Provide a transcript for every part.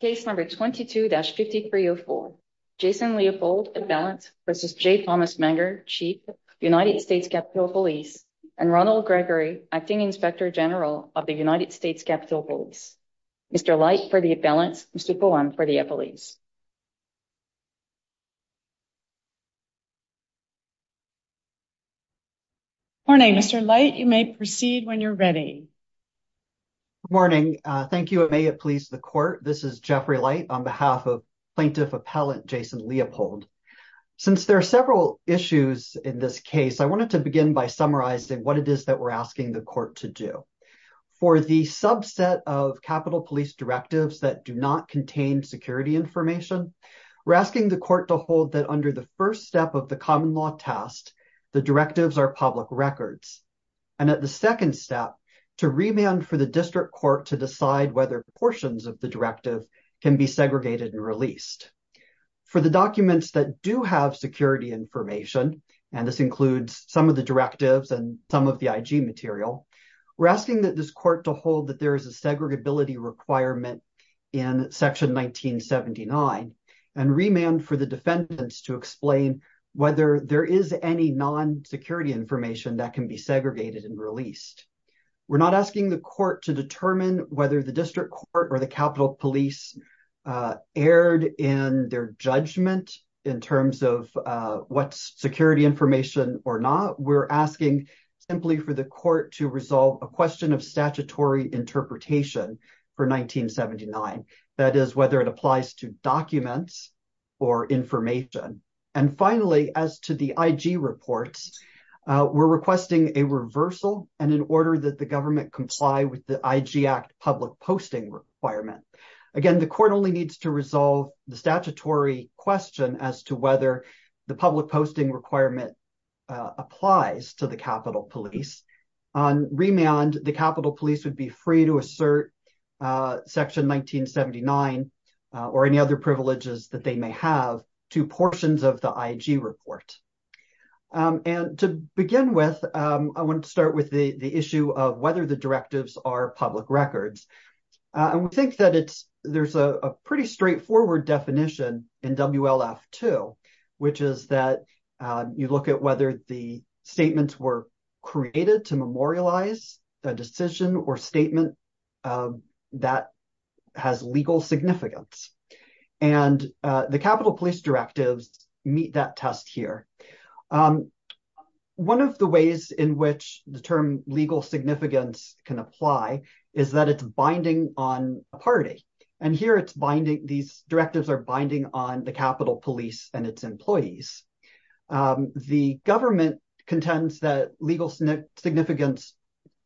Case number 22-5304, Jason Leopold, at balance, v. J. Thomas Manger, Chief, United States Capitol Police, and Ronald Gregory, Acting Inspector General of the United States Capitol Police. Mr. Leight, for the at balance, Mr. Cohen, for the at police. Morning, Mr. Leight, you may proceed when you're ready. Good morning. Thank you, and may it please the court, this is Jeffrey Leight on behalf of Plaintiff Appellant Jason Leopold. Since there are several issues in this case, I wanted to begin by summarizing what it is that we're asking the court to do. For the subset of Capitol Police directives that do not contain security information, we're asking the court to hold that under the first step of the common law test, the directives are public records. And at the second step, to remand for the district court to decide whether portions of the directive can be segregated and released. For the documents that do have security information, and this includes some of the directives and some of the IG material, we're asking that this court to hold that there is a segregability requirement in Section 1979, and remand for the defendants to explain whether there is any non-security information that can be segregated and released. We're not asking the court to determine whether the district court or the Capitol Police erred in their judgment in terms of what's security information or not. We're asking simply for the court to resolve a question of statutory interpretation for 1979, that is, whether it applies to documents or information. And finally, as to the IG reports, we're requesting a reversal and an order that the government comply with the IG Act public posting requirement. Again, the court only needs to resolve the statutory question as to whether the public posting requirement applies to the Capitol Police. On remand, the Capitol Police would be free to assert Section 1979 or any other privileges that they may have to portions of the IG report. And to begin with, I want to start with the issue of whether the directives are public records. And we think that there's a pretty straightforward definition in WLF-2, which is that you look at whether the statements were created to memorialize a decision or statement that has legal significance. And the Capitol Police directives meet that test here. One of the ways in which the term legal significance can apply is that it's binding on a party. And here it's binding. These directives are binding on the Capitol Police and its employees. The government contends that legal significance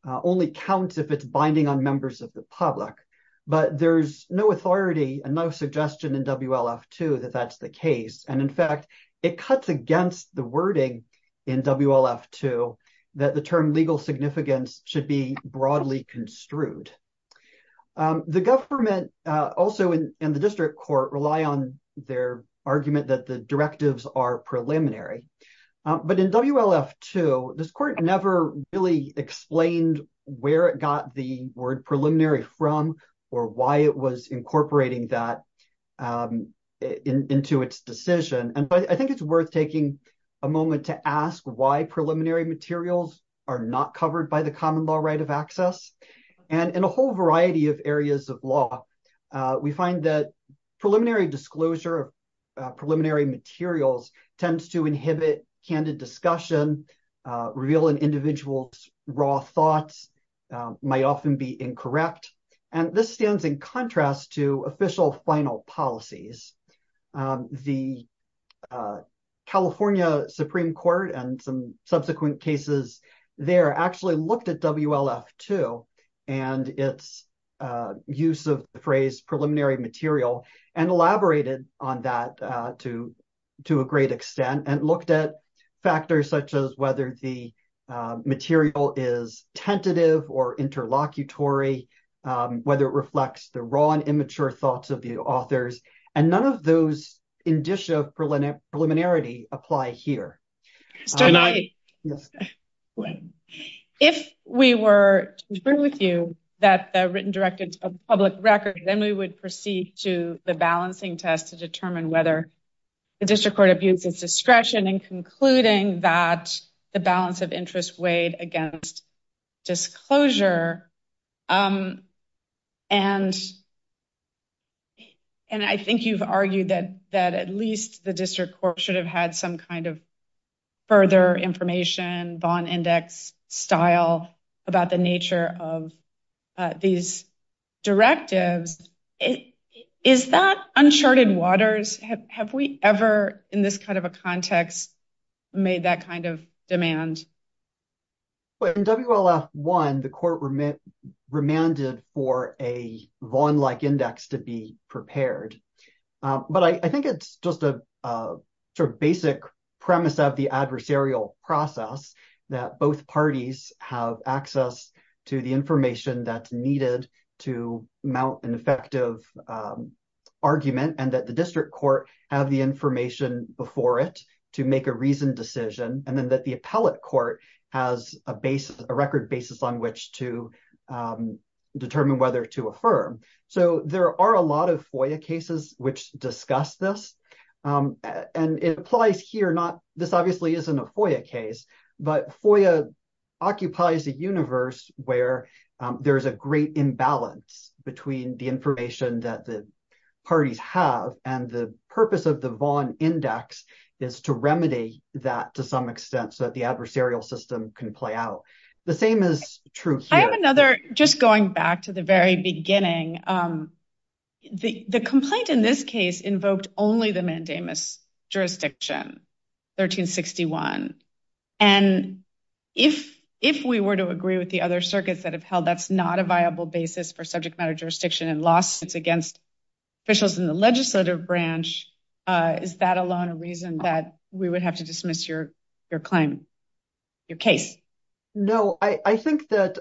only counts if it's binding on members of the public. But there's no authority and no suggestion in WLF-2 that that's the case. And in fact, it cuts against the wording in WLF-2 that the term legal significance should be broadly construed. The government also in the district court rely on their argument that the directives are preliminary. But in WLF-2, this court never really explained where it got the word preliminary from or why it was incorporating that into its decision. And I think it's worth taking a moment to ask why preliminary materials are not covered by the common law right of access. And in a whole variety of areas of law, we find that preliminary disclosure of preliminary materials tends to inhibit candid discussion, reveal an individual's raw thoughts, might often be incorrect. And this stands in contrast to official final policies. The California Supreme Court and some subsequent cases there actually looked at WLF-2 and its use of the phrase preliminary material and elaborated on that to a great extent and looked at factors such as whether the material is tentative or interlocutory, whether it reflects the raw and immature thoughts of the authors. And none of those indicia of preliminarity apply here. If we were to agree with you that the written directives of public record, then we would proceed to the balancing test to determine whether the district court abutes its discretion in concluding that the balance of interest weighed against disclosure. And I think you've argued that at least the district court should have had some kind of further information, bond index style about the nature of these directives. Is that uncharted waters? Have we ever in this kind of a context made that kind of demand? Well, in WLF-1, the court remanded for a Vaughn-like index to be prepared. But I think it's just a sort of basic premise of the adversarial process that both parties have access to the information that's needed to mount an effective argument and that the district court have the information before it to make a reasoned decision. And then that the appellate court has a record basis on which to determine whether to affirm. So there are a lot of FOIA cases which discuss this. And it applies here, this obviously isn't a FOIA case, but FOIA occupies a universe where there is a great imbalance between the information that the parties have and the purpose of the Vaughn index is to remedy that to some extent so that the adversarial system can play out. The same is true here. Just going back to the very beginning, the complaint in this case invoked only the mandamus jurisdiction, 1361. And if we were to agree with the other circuits that have held that's not a viable basis for subject matter jurisdiction and lawsuits against officials in the legislative branch, is that alone a reason that we would have to dismiss your claim, your case? No, I think that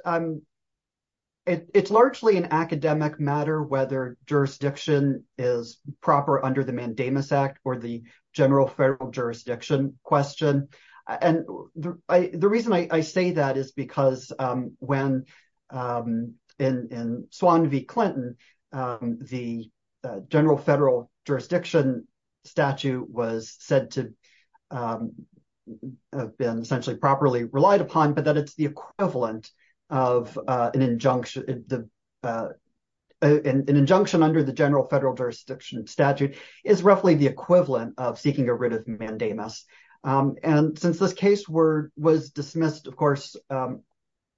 it's largely an academic matter whether jurisdiction is proper under the Mandamus Act or the general federal jurisdiction question. The reason I say that is because when in Swan v. Clinton, the general federal jurisdiction statute was said to have been essentially properly relied upon, but that it's the equivalent of an injunction under the general federal jurisdiction statute is roughly the equivalent of seeking a writ of mandamus. And since this case was dismissed, of course,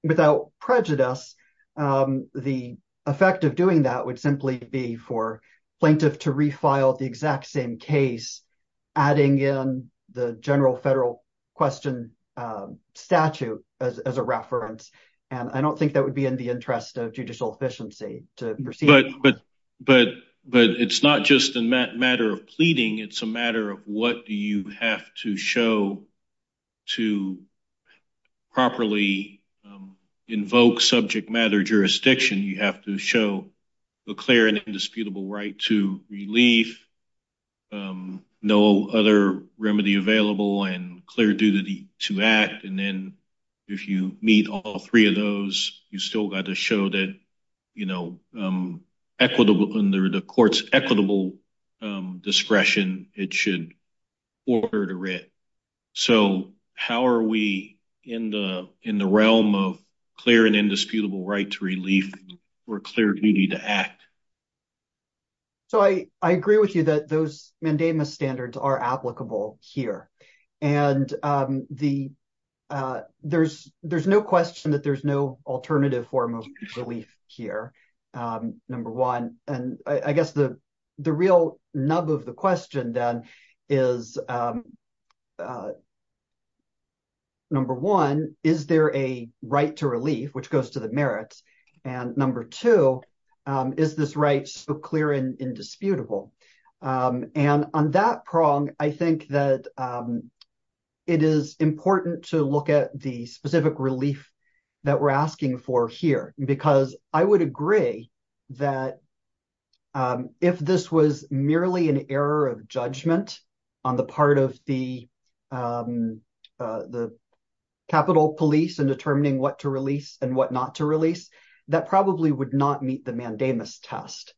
without prejudice, the effect of doing that would simply be for plaintiff to refile the exact same case, adding in the general federal question statute as a reference. And I don't think that would be in the interest of judicial efficiency to proceed. But it's not just a matter of pleading. It's a matter of what do you have to show to properly invoke subject matter jurisdiction. You have to show a clear and indisputable right to relief, no other remedy available, and clear duty to act. And then if you meet all three of those, you still got to show that under the court's equitable discretion, it should order the writ. So how are we in the realm of clear and indisputable right to relief or clear duty to act? So I agree with you that those mandamus standards are applicable here. And there's no question that there's no alternative form of relief here, number one. And I guess the real nub of the question then is, number one, is there a right to relief, which goes to the merits? And number two, is this right so clear and indisputable? And on that prong, I think that it is important to look at the specific relief that we're asking for here. Because I would agree that if this was merely an error of judgment on the part of the capital police in determining what to release and what not to release, that probably would not meet the mandamus test.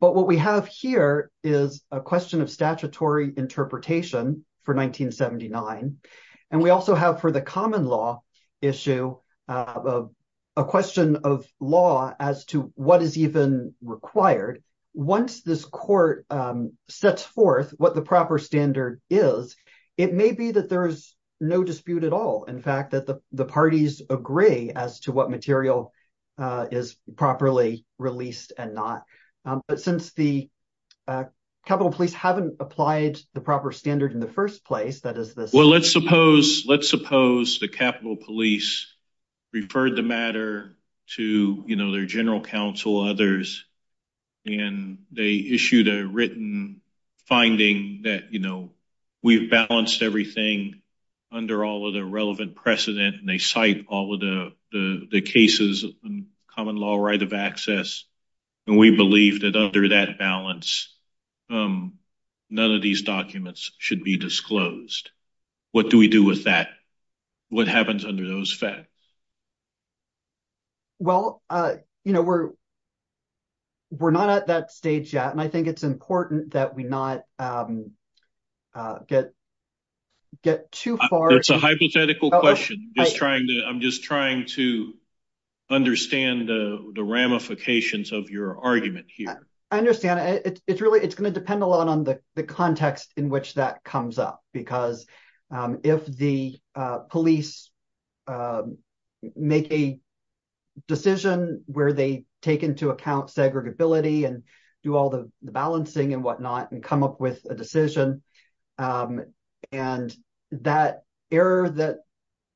But what we have here is a question of statutory interpretation for 1979. And we also have for the common law issue a question of law as to what is even required. Once this court sets forth what the proper standard is, it may be that there is no dispute at all. In fact, that the parties agree as to what material is properly released and not. But since the capital police haven't applied the proper standard in the first place, that is this. Well, let's suppose the capital police referred the matter to their general counsel, others. And they issued a written finding that we've balanced everything under all of the relevant precedent. And they cite all of the cases in common law right of access. And we believe that under that balance, none of these documents should be disclosed. What do we do with that? What happens under those facts? Well, you know, we're not at that stage yet. And I think it's important that we not get too far. It's a hypothetical question. I'm just trying to understand the ramifications of your argument here. I understand. It's really it's going to depend a lot on the context in which that comes up. Because if the police make a decision where they take into account segregability and do all the balancing and whatnot and come up with a decision. And that error that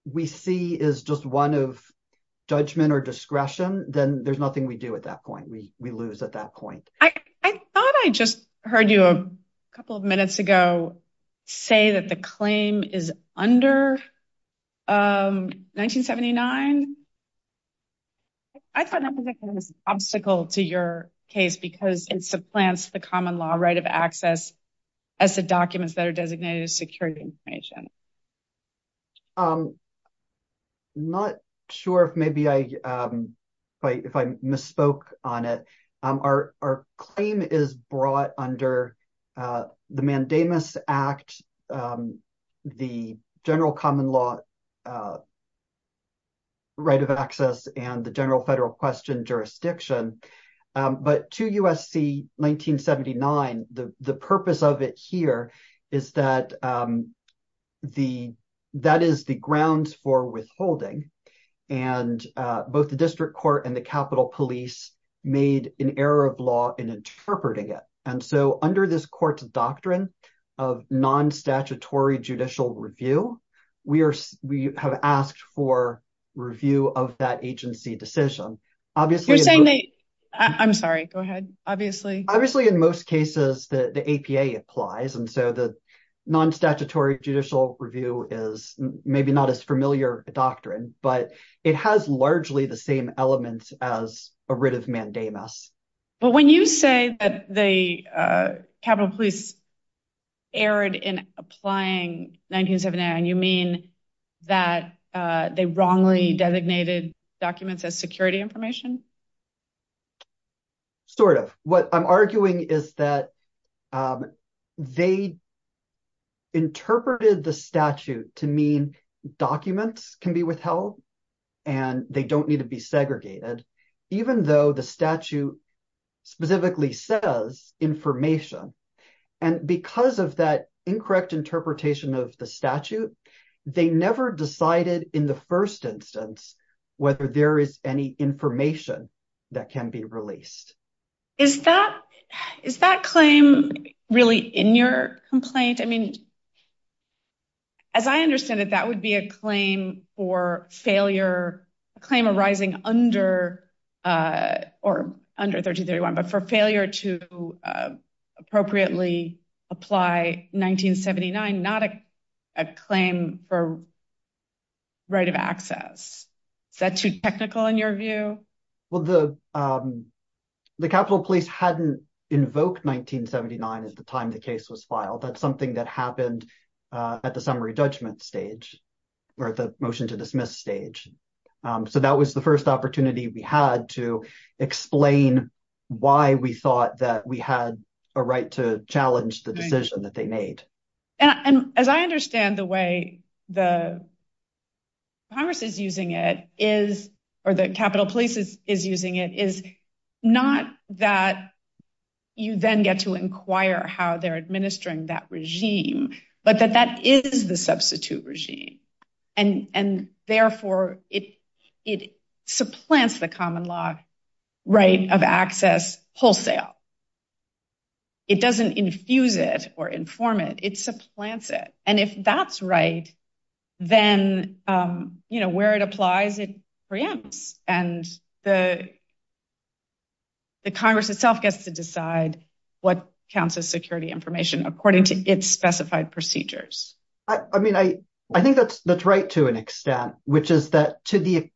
we see is just one of judgment or discretion. Then there's nothing we do at that point. We lose at that point. I thought I just heard you a couple of minutes ago say that the claim is under 1979. I thought that was an obstacle to your case because it supplants the common law right of access as the documents that are designated as security information. I'm not sure if maybe I if I misspoke on it. Our claim is brought under the Mandamus Act, the general common law right of access, and the general federal question jurisdiction. But to USC 1979, the purpose of it here is that the that is the grounds for withholding. And both the district court and the Capitol police made an error of law in interpreting it. And so under this court's doctrine of non statutory judicial review, we are we have asked for review of that agency decision. Obviously, I'm sorry. Go ahead. Obviously, obviously, in most cases, the APA applies. And so the non statutory judicial review is maybe not as familiar a doctrine, but it has largely the same elements as a writ of mandamus. But when you say that the Capitol police erred in applying 1979, you mean that they wrongly designated documents as security information? Sort of what I'm arguing is that they. Interpreted the statute to mean documents can be withheld and they don't need to be segregated, even though the statute specifically says information. And because of that incorrect interpretation of the statute, they never decided in the first instance whether there is any information that can be released. Is that is that claim really in your complaint? I mean. As I understand it, that would be a claim for failure, a claim arising under or under 30, 31, but for failure to appropriately apply 1979, not a claim for. Right of access. Is that too technical in your view? Well, the the Capitol police hadn't invoked 1979 at the time the case was filed. That's something that happened at the summary judgment stage or the motion to dismiss stage. So that was the first opportunity we had to explain why we thought that we had a right to challenge the decision that they made. And as I understand the way the. Congress is using it is or the Capitol police is is using it is not that you then get to inquire how they're administering that regime, but that that is the substitute regime. And and therefore it it supplants the common law right of access wholesale. It doesn't infuse it or inform it, it supplants it. And if that's right, then, you know, where it applies, it preempts and the. The Congress itself gets to decide what counts as security information according to its specified procedures. I mean, I I think that's that's right, to an extent, which is that to the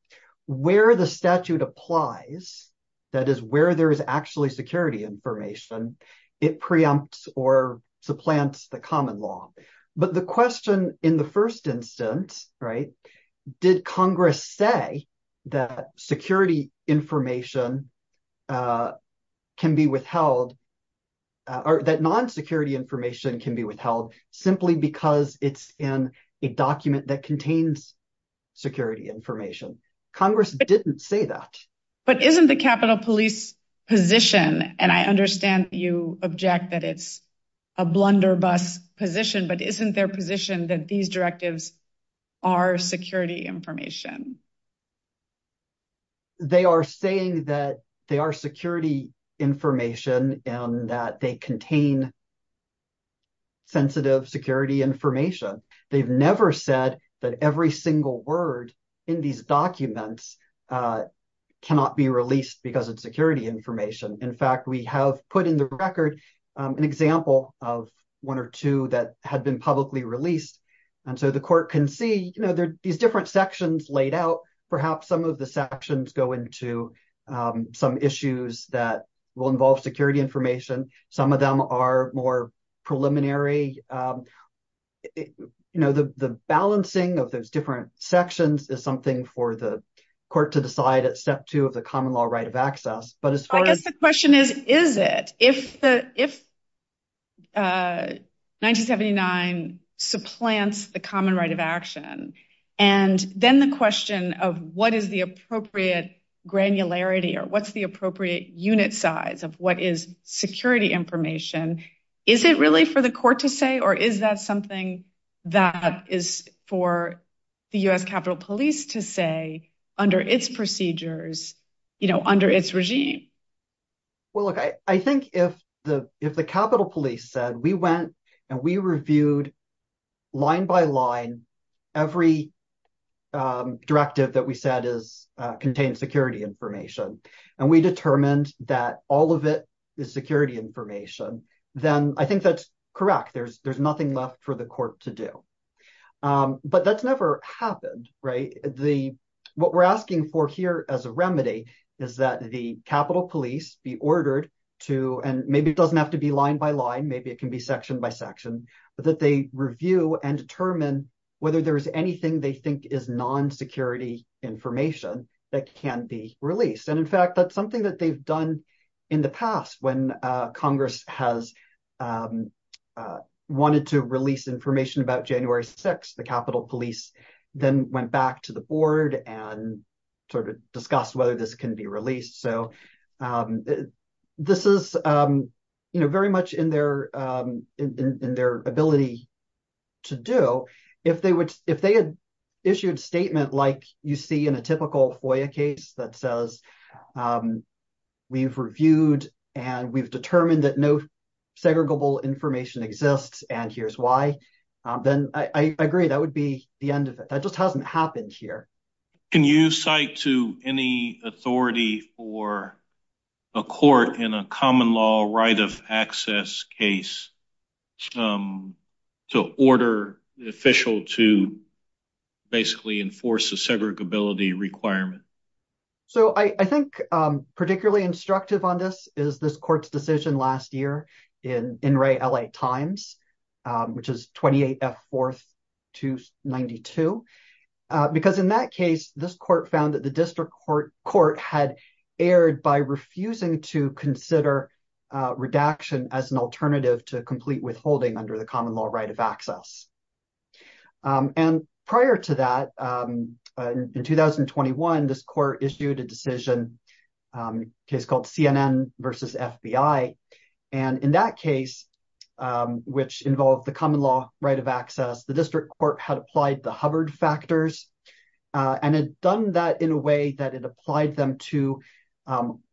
where the statute applies, that is where there is actually security information. It preempts or supplants the common law. But the question in the first instance. Right. Did Congress say that security information can be withheld or that non security information can be withheld simply because it's in a document that contains security information? Congress didn't say that, but isn't the Capitol police position. And I understand you object that it's a blunderbuss position, but isn't their position that these directives are security information? They are saying that they are security information and that they contain sensitive security information. They've never said that every single word in these documents cannot be released because of security information. In fact, we have put in the record an example of one or two that had been publicly released. And so the court can see, you know, there are these different sections laid out. Perhaps some of the sections go into some issues that will involve security information. Some of them are more preliminary. You know, the balancing of those different sections is something for the court to decide at step two of the common law right of access. But as far as the question is, is it if the if. 1979 supplants the common right of action and then the question of what is the appropriate granularity or what's the appropriate unit size of what is security information? Is it really for the court to say, or is that something that is for the US Capitol police to say under its procedures, you know, under its regime? Well, look, I think if the if the Capitol police said we went and we reviewed line by line every directive that we said is contained security information and we determined that all of it is security information, then I think that's correct. There's there's nothing left for the court to do. But that's never happened. Right. The what we're asking for here as a remedy is that the Capitol police be ordered to and maybe it doesn't have to be line by line. Maybe it can be section by section, but that they review and determine whether there is anything they think is non security information that can be released. And in fact, that's something that they've done in the past when Congress has wanted to release information about January six, the Capitol police then went back to the board and sort of discussed whether this can be released. So this is, you know, very much in their in their ability to do if they would if they had issued statement like you see in a typical FOIA case that says we've reviewed and we've determined that no segregable information exists. And here's why. Then I agree that would be the end of it. That just hasn't happened here. Can you cite to any authority for a court in a common law right of access case to order the official to basically enforce the segregability requirement? So I think particularly instructive on this is this court's decision last year in in Ray L.A. Times, which is 28th 4th to 92 because in that case, this court found that the district court court had aired by refusing to consider redaction as an alternative to complete withholding under the common law right of access. And prior to that, in 2021, this court issued a decision case called CNN versus FBI. And in that case, which involved the common law right of access, the district court had applied the Hubbard factors and had done that in a way that it applied them to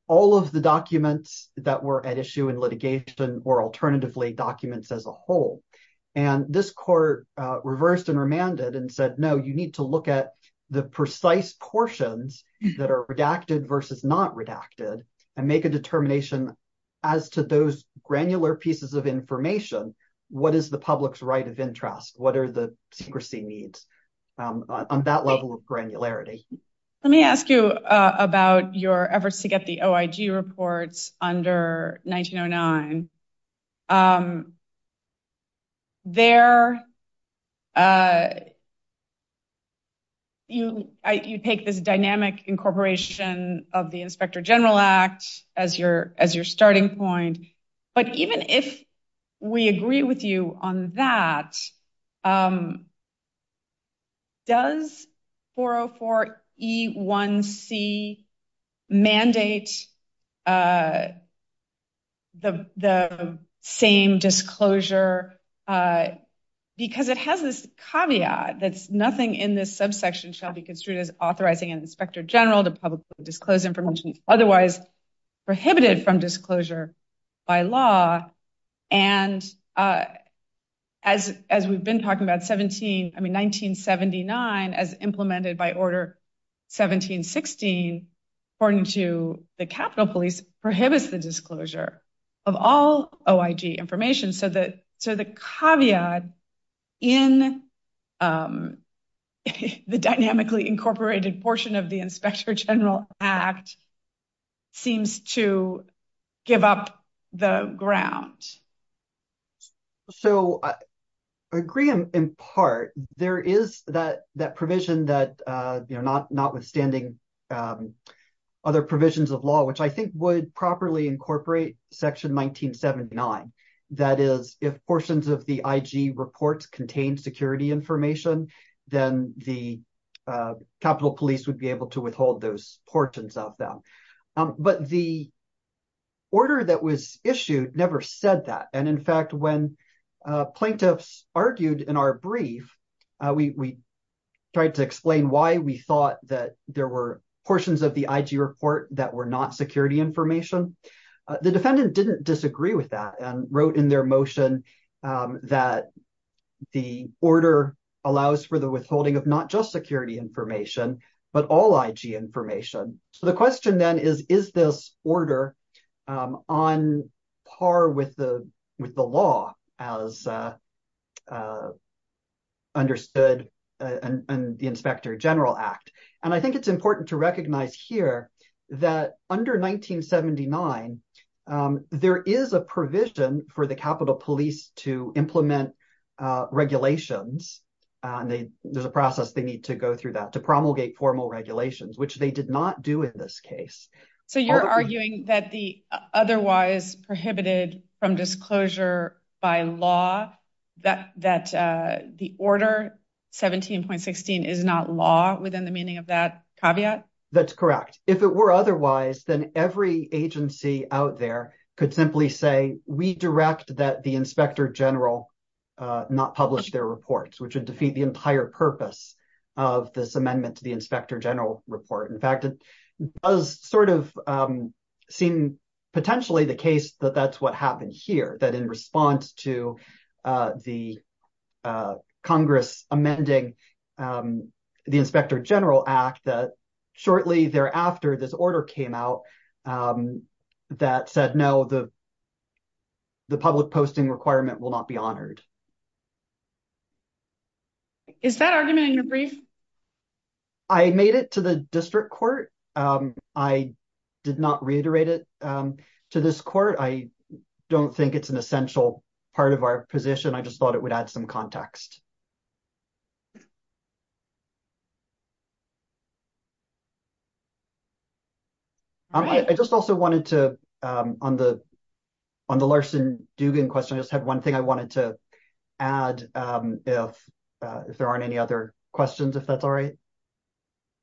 all of the documents that were at issue in litigation or alternatively documents as a whole. And this court reversed and remanded and said, no, you need to look at the precise portions that are redacted versus not redacted and make a determination as to those granular pieces of information. What is the public's right of interest? What are the secrecy needs on that level of granularity? Let me ask you about your efforts to get the OIG reports under 1909 there. You take this dynamic incorporation of the Inspector General Act as your as your starting point, but even if we agree with you on that. Does 404 E1C mandate the same disclosure because it has this caveat that's nothing in this subsection shall be construed as authorizing an inspector general to publicly disclose information otherwise prohibited from disclosure by law. And as as we've been talking about 17, I mean, 1979, as implemented by order 1716, according to the Capitol Police, prohibits the disclosure of all OIG information. So the so the caveat in the dynamically incorporated portion of the Inspector General Act seems to give up the ground. So I agree, in part, there is that that provision that, you know, not notwithstanding other provisions of law, which I think would properly incorporate section 1979, that is, if portions of the IG reports contain security information, then the Capitol Police would be able to withhold those portions of them. But the order that was issued never said that. And in fact, when plaintiffs argued in our brief, we tried to explain why we thought that there were portions of the IG report that were not security information. The defendant didn't disagree with that and wrote in their motion that the order allows for the withholding of not just security information, but all IG information. So the question then is, is this order on par with the with the law as understood in the Inspector General Act? And I think it's important to recognize here that under 1979, there is a provision for the Capitol Police to implement regulations. There's a process they need to go through that to promulgate formal regulations, which they did not do in this case. So you're arguing that the otherwise prohibited from disclosure by law that that the order 17.16 is not law within the meaning of that caveat? That's correct. If it were otherwise, then every agency out there could simply say we direct that the Inspector General not publish their reports, which would defeat the entire purpose of this amendment to the Inspector General report. In fact, it does sort of seem potentially the case that that's what happened here, that in response to the Congress amending the Inspector General Act that shortly thereafter, this order came out that said no, the public posting requirement will not be honored. Is that argument in your brief? I made it to the district court. I did not reiterate it to this court. I don't think it's an essential part of our position. I just thought it would add some context. I just also wanted to, on the Larson-Dugan question, I just had one thing I wanted to add, if there aren't any other questions, if that's all right.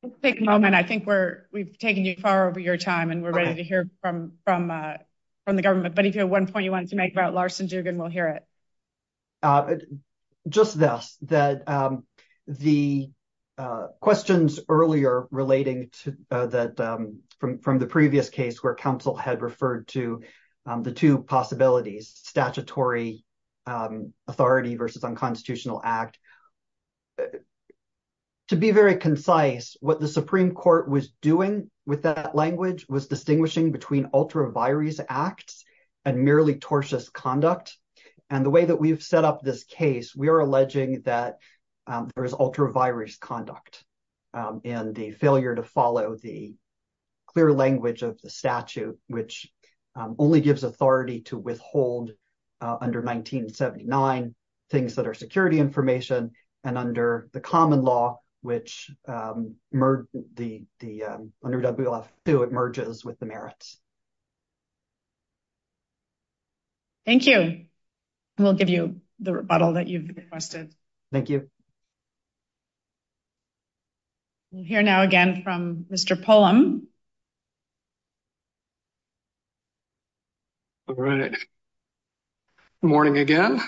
Let's take a moment. I think we've taken you far over your time and we're ready to hear from the government. But if you have one point you want to make about Larson-Dugan, we'll hear it. Just this, that the questions earlier relating to that from the previous case where counsel had referred to the two possibilities, statutory authority versus unconstitutional act. To be very concise, what the Supreme Court was doing with that language was distinguishing between ultra virus acts and merely tortious conduct. And the way that we've set up this case, we are alleging that there is ultra virus conduct and the failure to follow the clear language of the statute, which only gives authority to withhold under 1979 things that are security information and under the common law, which under WLF 2, it merges with the merits. Thank you. We'll give you the rebuttal that you've requested. Thank you. We'll hear now again from Mr. Pullum. All right. Morning again.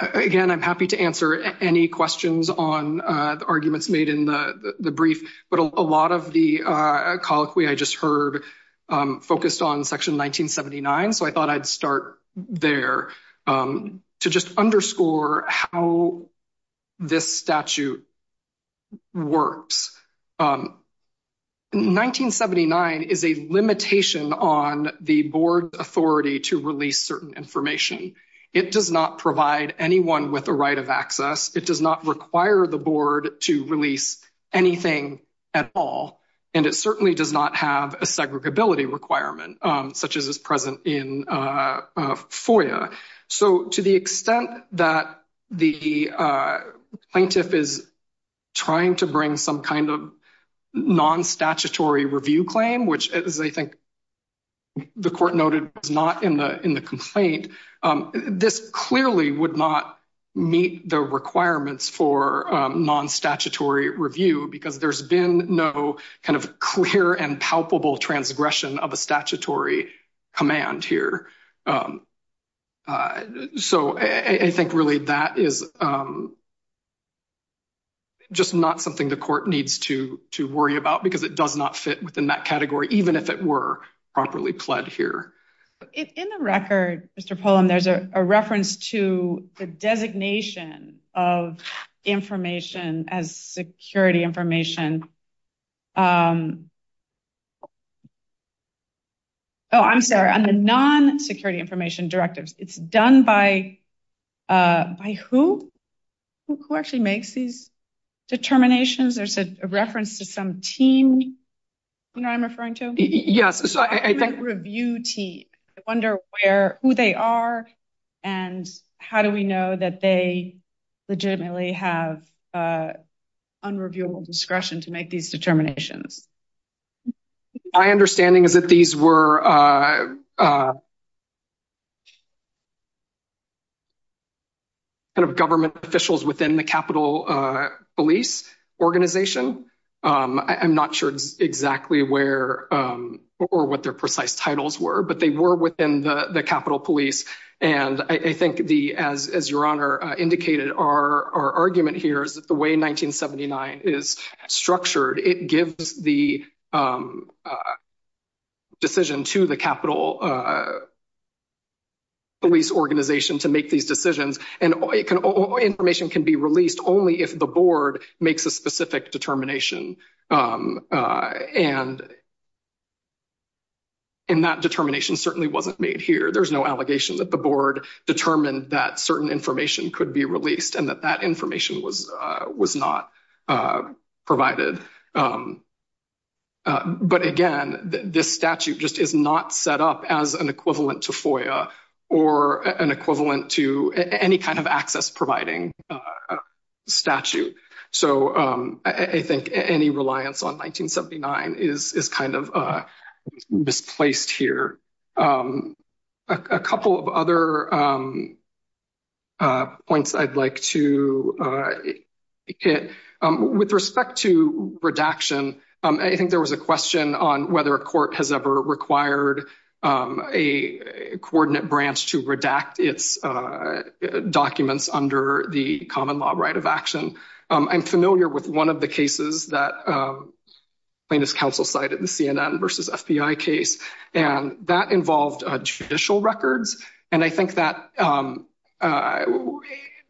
Again, I'm happy to answer any questions on the arguments made in the brief, but a lot of the colloquy I just heard focused on section 1979. So I thought I'd start there to just underscore how this statute works. 1979 is a limitation on the board authority to release certain information. It does not provide anyone with a right of access. It does not require the board to release anything at all. And it certainly does not have a segregability requirement, such as is present in FOIA. So, to the extent that the plaintiff is trying to bring some kind of non statutory review claim, which is, I think. The court noted is not in the in the complaint. This clearly would not meet the requirements for non statutory review, because there's been no kind of clear and palpable transgression of a statutory command here. So, I think really that is. Just not something the court needs to to worry about, because it does not fit within that category, even if it were properly pled here. In the record, Mr. Pullum, there's a reference to the designation of information as security information. Oh, I'm sorry. On the non security information directives, it's done by who actually makes these determinations. There's a reference to some team I'm referring to. Yes. So I think review team. I wonder where who they are and how do we know that they legitimately have unreviewable discretion to make these determinations? My understanding is that these were government officials within the Capitol police organization. I'm not sure exactly where or what their precise titles were, but they were within the Capitol police. And I think the, as your honor indicated, our argument here is that the way 1979 is structured, it gives the. Decision to the Capitol police organization to make these decisions and information can be released only if the board makes a specific determination. And. And that determination certainly wasn't made here. There's no allegation that the board determined that certain information could be released and that that information was was not provided. But again, this statute just is not set up as an equivalent to or an equivalent to any kind of access providing statute. So, I think any reliance on 1979 is kind of misplaced here. A couple of other. Points I'd like to hit with respect to redaction. I think there was a question on whether a court has ever required a coordinate branch to redact its documents under the common law right of action. I'm familiar with one of the cases that plaintiff's counsel cited the CNN versus FBI case, and that involved judicial records. And I think that.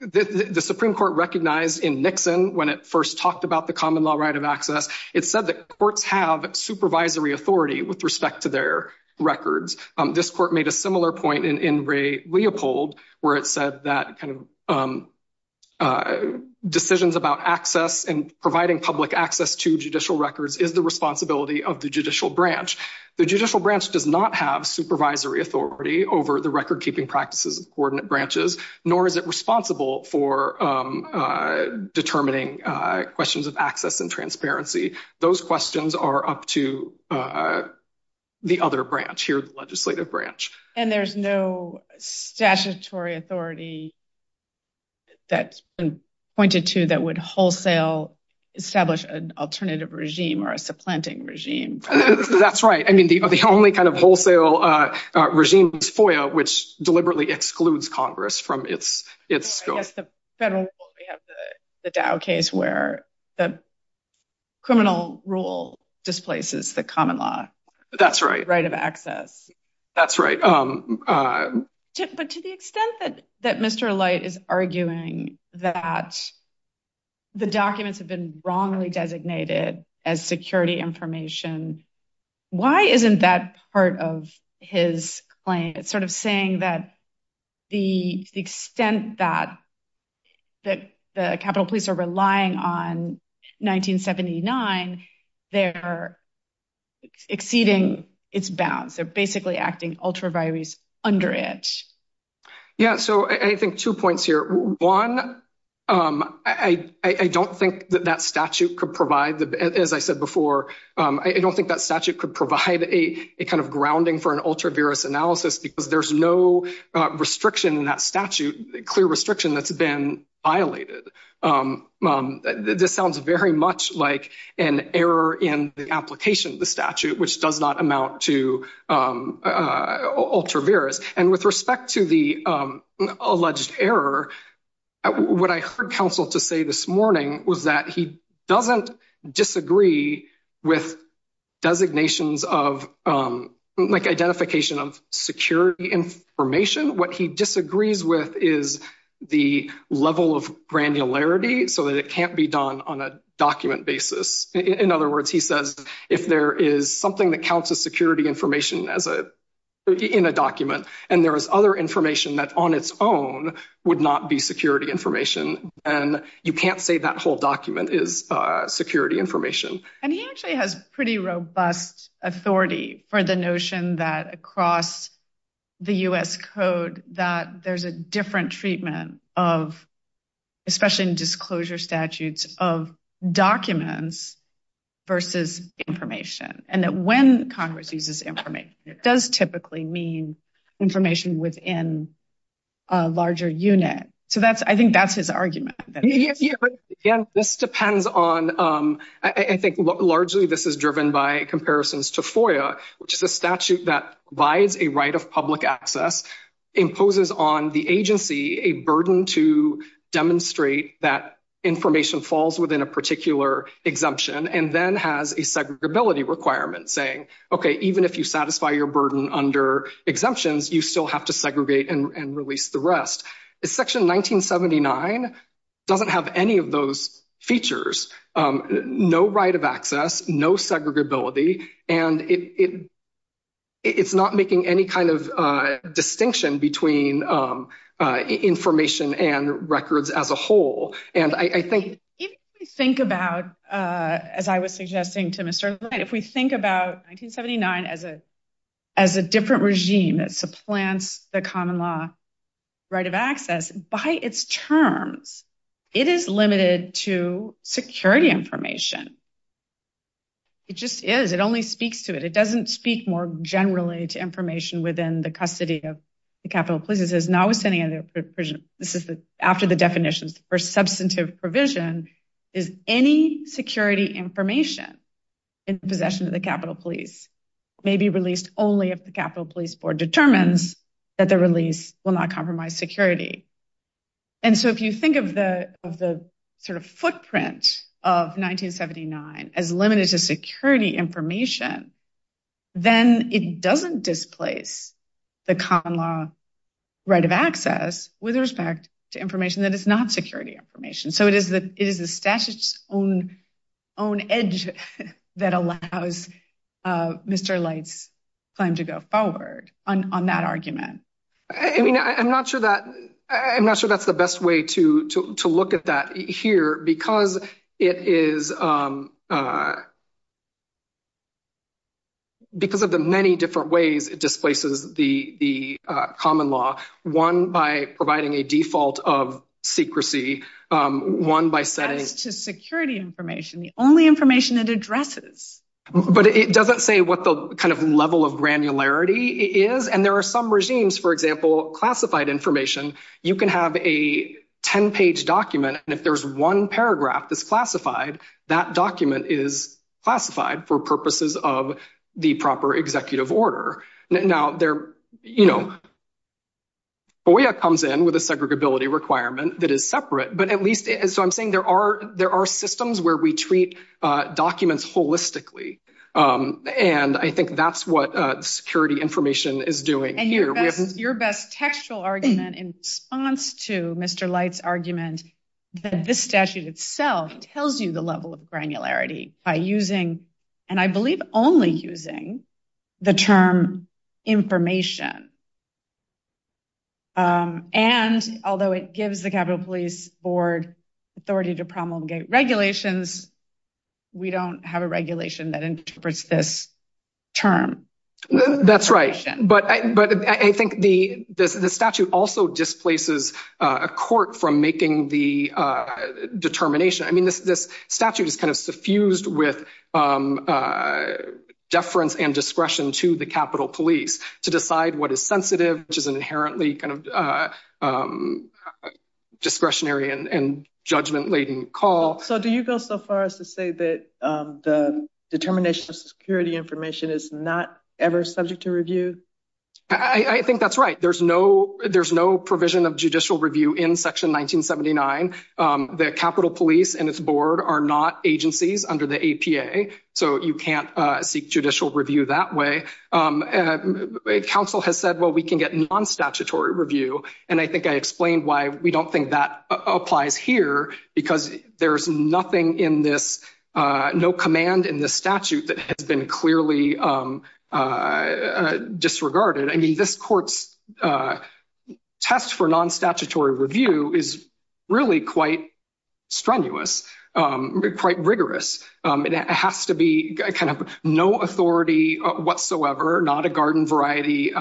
The Supreme Court recognized in Nixon when it first talked about the common law right of access. It said that courts have supervisory authority with respect to their records. This court made a similar point in Ray Leopold, where it said that kind of. Decisions about access and providing public access to judicial records is the responsibility of the judicial branch. The judicial branch does not have supervisory authority over the record keeping practices coordinate branches, nor is it responsible for. Determining questions of access and transparency. Those questions are up to. The other branch here, the legislative branch. And there's no statutory authority. That's been pointed to that would wholesale establish an alternative regime or a supplanting regime. That's right. I mean, the only kind of wholesale regime is FOIA, which deliberately excludes Congress from its scope. We have the Dow case where the criminal rule displaces the common law. That's right. Right of access. That's right. But to the extent that that Mr. Light is arguing that the documents have been wrongly designated as security information, why isn't that part of his claim? It's sort of saying that the extent that that the Capitol police are relying on 1979, they're exceeding its bounds. They're basically acting ultra virus under it. Yeah, so I think two points here. One, I don't think that that statute could provide, as I said before, I don't think that statute could provide a kind of grounding for an ultra virus analysis because there's no restriction in that statute, clear restriction that's been violated. This sounds very much like an error in the application of the statute, which does not amount to ultra virus. And with respect to the alleged error. What I heard counsel to say this morning was that he doesn't disagree with designations of identification of security information. What he disagrees with is the level of granularity so that it can't be done on a document basis. In other words, he says, if there is something that counts as security information in a document, and there is other information that on its own would not be security information, then you can't say that whole document is security information. And he actually has pretty robust authority for the notion that across the US code that there's a different treatment of, especially in disclosure statutes of documents versus information, and that when Congress uses information, it does typically mean information within a larger unit. So that's I think that's his argument. This depends on, I think, largely, this is driven by comparisons to FOIA, which is a statute that provides a right of public access, imposes on the agency a burden to demonstrate that information falls within a particular exemption and then has a segregability requirement saying, okay, even if you satisfy your burden under exemptions, you still have to segregate and release the rest. Section 1979 doesn't have any of those features, no right of access, no segregability, and it's not making any kind of distinction between information and records as a whole. If we think about, as I was suggesting to Mr. Knight, if we think about 1979 as a different regime that supplants the common law right of access, by its terms, it is limited to security information. It just is, it only speaks to it. It doesn't speak more generally to information within the custody of the Capitol Police. This is notwithstanding, this is after the definitions for substantive provision, is any security information in possession of the Capitol Police may be released only if the Capitol Police Board determines that the release will not compromise security. And so if you think of the sort of footprint of 1979 as limited to security information, then it doesn't displace the common law right of access with respect to information that is not security information. So it is the statute's own edge that allows Mr. Light's claim to go forward on that argument. I mean, I'm not sure that's the best way to look at that here because it is, because of the many different ways it displaces the common law, one by providing a default of secrecy, one by setting… As to security information, the only information it addresses. But it doesn't say what the kind of level of granularity is. And there are some regimes, for example, classified information, you can have a 10-page document. And if there's one paragraph that's classified, that document is classified for purposes of the proper executive order. Now, you know, FOIA comes in with a segregability requirement that is separate. But at least, so I'm saying there are systems where we treat documents holistically. And I think that's what security information is doing here. Your best textual argument in response to Mr. Light's argument that this statute itself tells you the level of granularity by using, and I believe only using, the term information. And although it gives the Capitol Police Board authority to promulgate regulations, we don't have a regulation that interprets this term. That's right. But I think the statute also displaces a court from making the determination. I mean, this statute is kind of suffused with deference and discretion to the Capitol Police to decide what is sensitive, which is an inherently kind of discretionary and judgment-laden call. So do you go so far as to say that the determination of security information is not ever subject to review? I think that's right. There's no provision of judicial review in Section 1979. The Capitol Police and its board are not agencies under the APA, so you can't seek judicial review that way. Council has said, well, we can get non-statutory review. And I think I explained why we don't think that applies here, because there's nothing in this, no command in this statute that has been clearly disregarded. I mean, this court's test for non-statutory review is really quite strenuous, quite rigorous. It has to be kind of no authority whatsoever, not a garden variety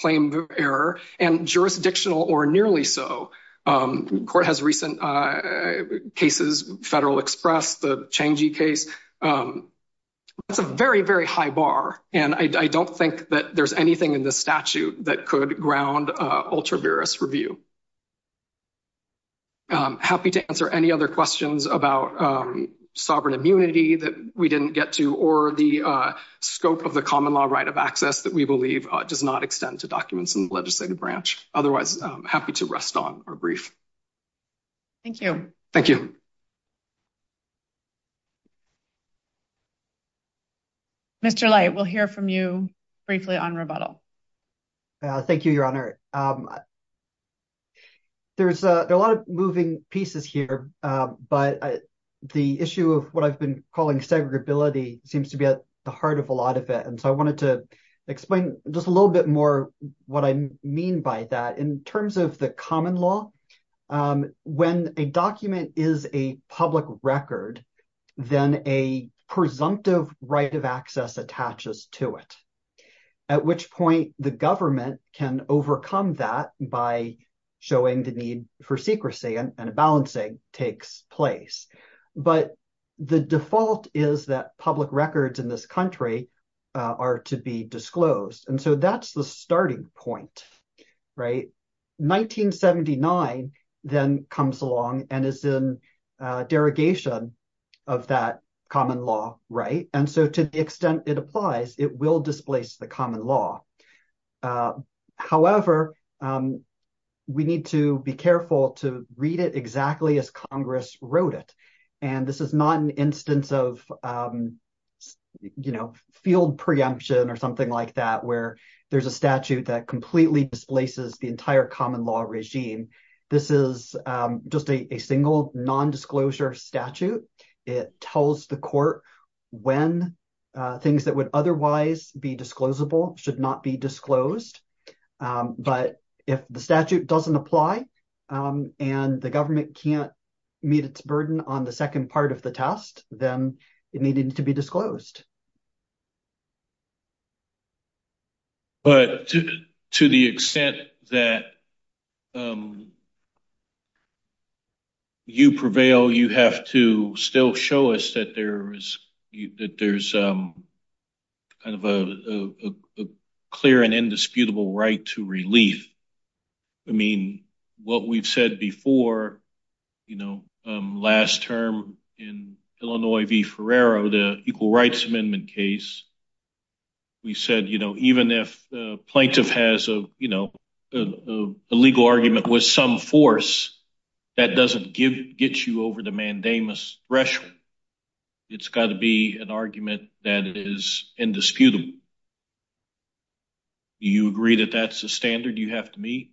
claim error, and jurisdictional or nearly so. The court has recent cases, Federal Express, the Changi case. It's a very, very high bar, and I don't think that there's anything in this statute that could ground ultra-virus review. I'm happy to answer any other questions about sovereign immunity that we didn't get to, or the scope of the common law right of access that we believe does not extend to documents in the legislative branch. Otherwise, I'm happy to rest on our brief. Thank you. Thank you. Mr. Light, we'll hear from you briefly on rebuttal. Thank you, Your Honor. There's a lot of moving pieces here, but the issue of what I've been calling segregability seems to be at the heart of a lot of it, and so I wanted to explain just a little bit more what I mean by that. In terms of the common law, when a document is a public record, then a presumptive right of access attaches to it, at which point the government can overcome that by showing the need for secrecy, and a balancing takes place. But the default is that public records in this country are to be disclosed, and so that's the starting point. 1979 then comes along and is in derogation of that common law, and so to the extent it applies, it will displace the common law. However, we need to be careful to read it exactly as Congress wrote it, and this is not an instance of, you know, field preemption or something like that, where there's a statute that completely displaces the entire common law regime. This is just a single nondisclosure statute. It tells the court when things that would otherwise be disclosable should not be disclosed, but if the statute doesn't apply and the government can't meet its burden on the second part of the test, then it needed to be disclosed. But to the extent that you prevail, you have to still show us that there's kind of a clear and indisputable right to relief. I mean, what we've said before, you know, last term in Illinois v. Ferrero, the Equal Rights Amendment case, we said, you know, even if the plaintiff has a legal argument with some force, that doesn't get you over the mandamus threshold. It's got to be an argument that is indisputable. Do you agree that that's the standard you have to meet?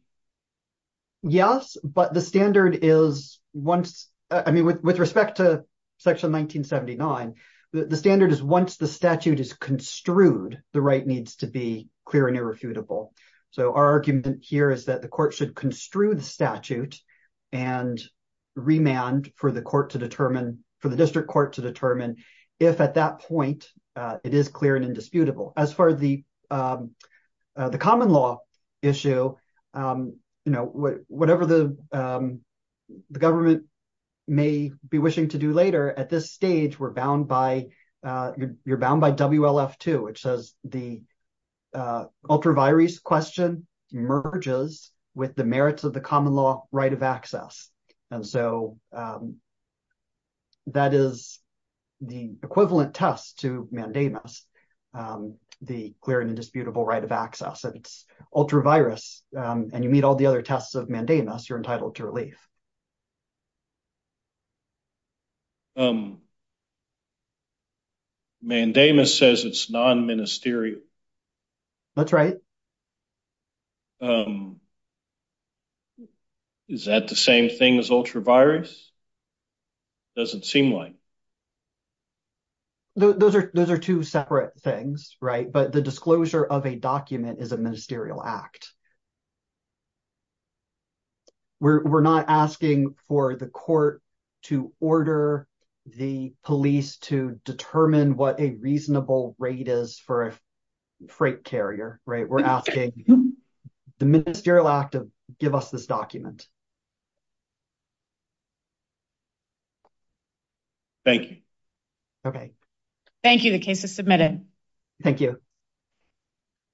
Yes, but the standard is once, I mean, with respect to Section 1979, the standard is once the statute is construed, the right needs to be clear and irrefutable. So our argument here is that the court should construe the statute and remand for the court to determine, for the district court to determine if at that point it is clear and indisputable. As far as the common law issue, you know, whatever the government may be wishing to do later, at this stage we're bound by, you're bound by WLF 2, which says the ultra virus question merges with the merits of the common law right of access. And so that is the equivalent test to mandamus, the clear and indisputable right of access. It's ultra virus and you meet all the other tests of mandamus, you're entitled to relief. Mandamus says it's non-ministerial. That's right. Is that the same thing as ultra virus? Doesn't seem like. Those are, those are two separate things, right? But the disclosure of a document is a ministerial act. We're not asking for the court to order the police to determine what a reasonable rate is for a freight carrier, right? We're asking the ministerial act to give us this document. Thank you. Okay. Thank you. The case is submitted. Thank you.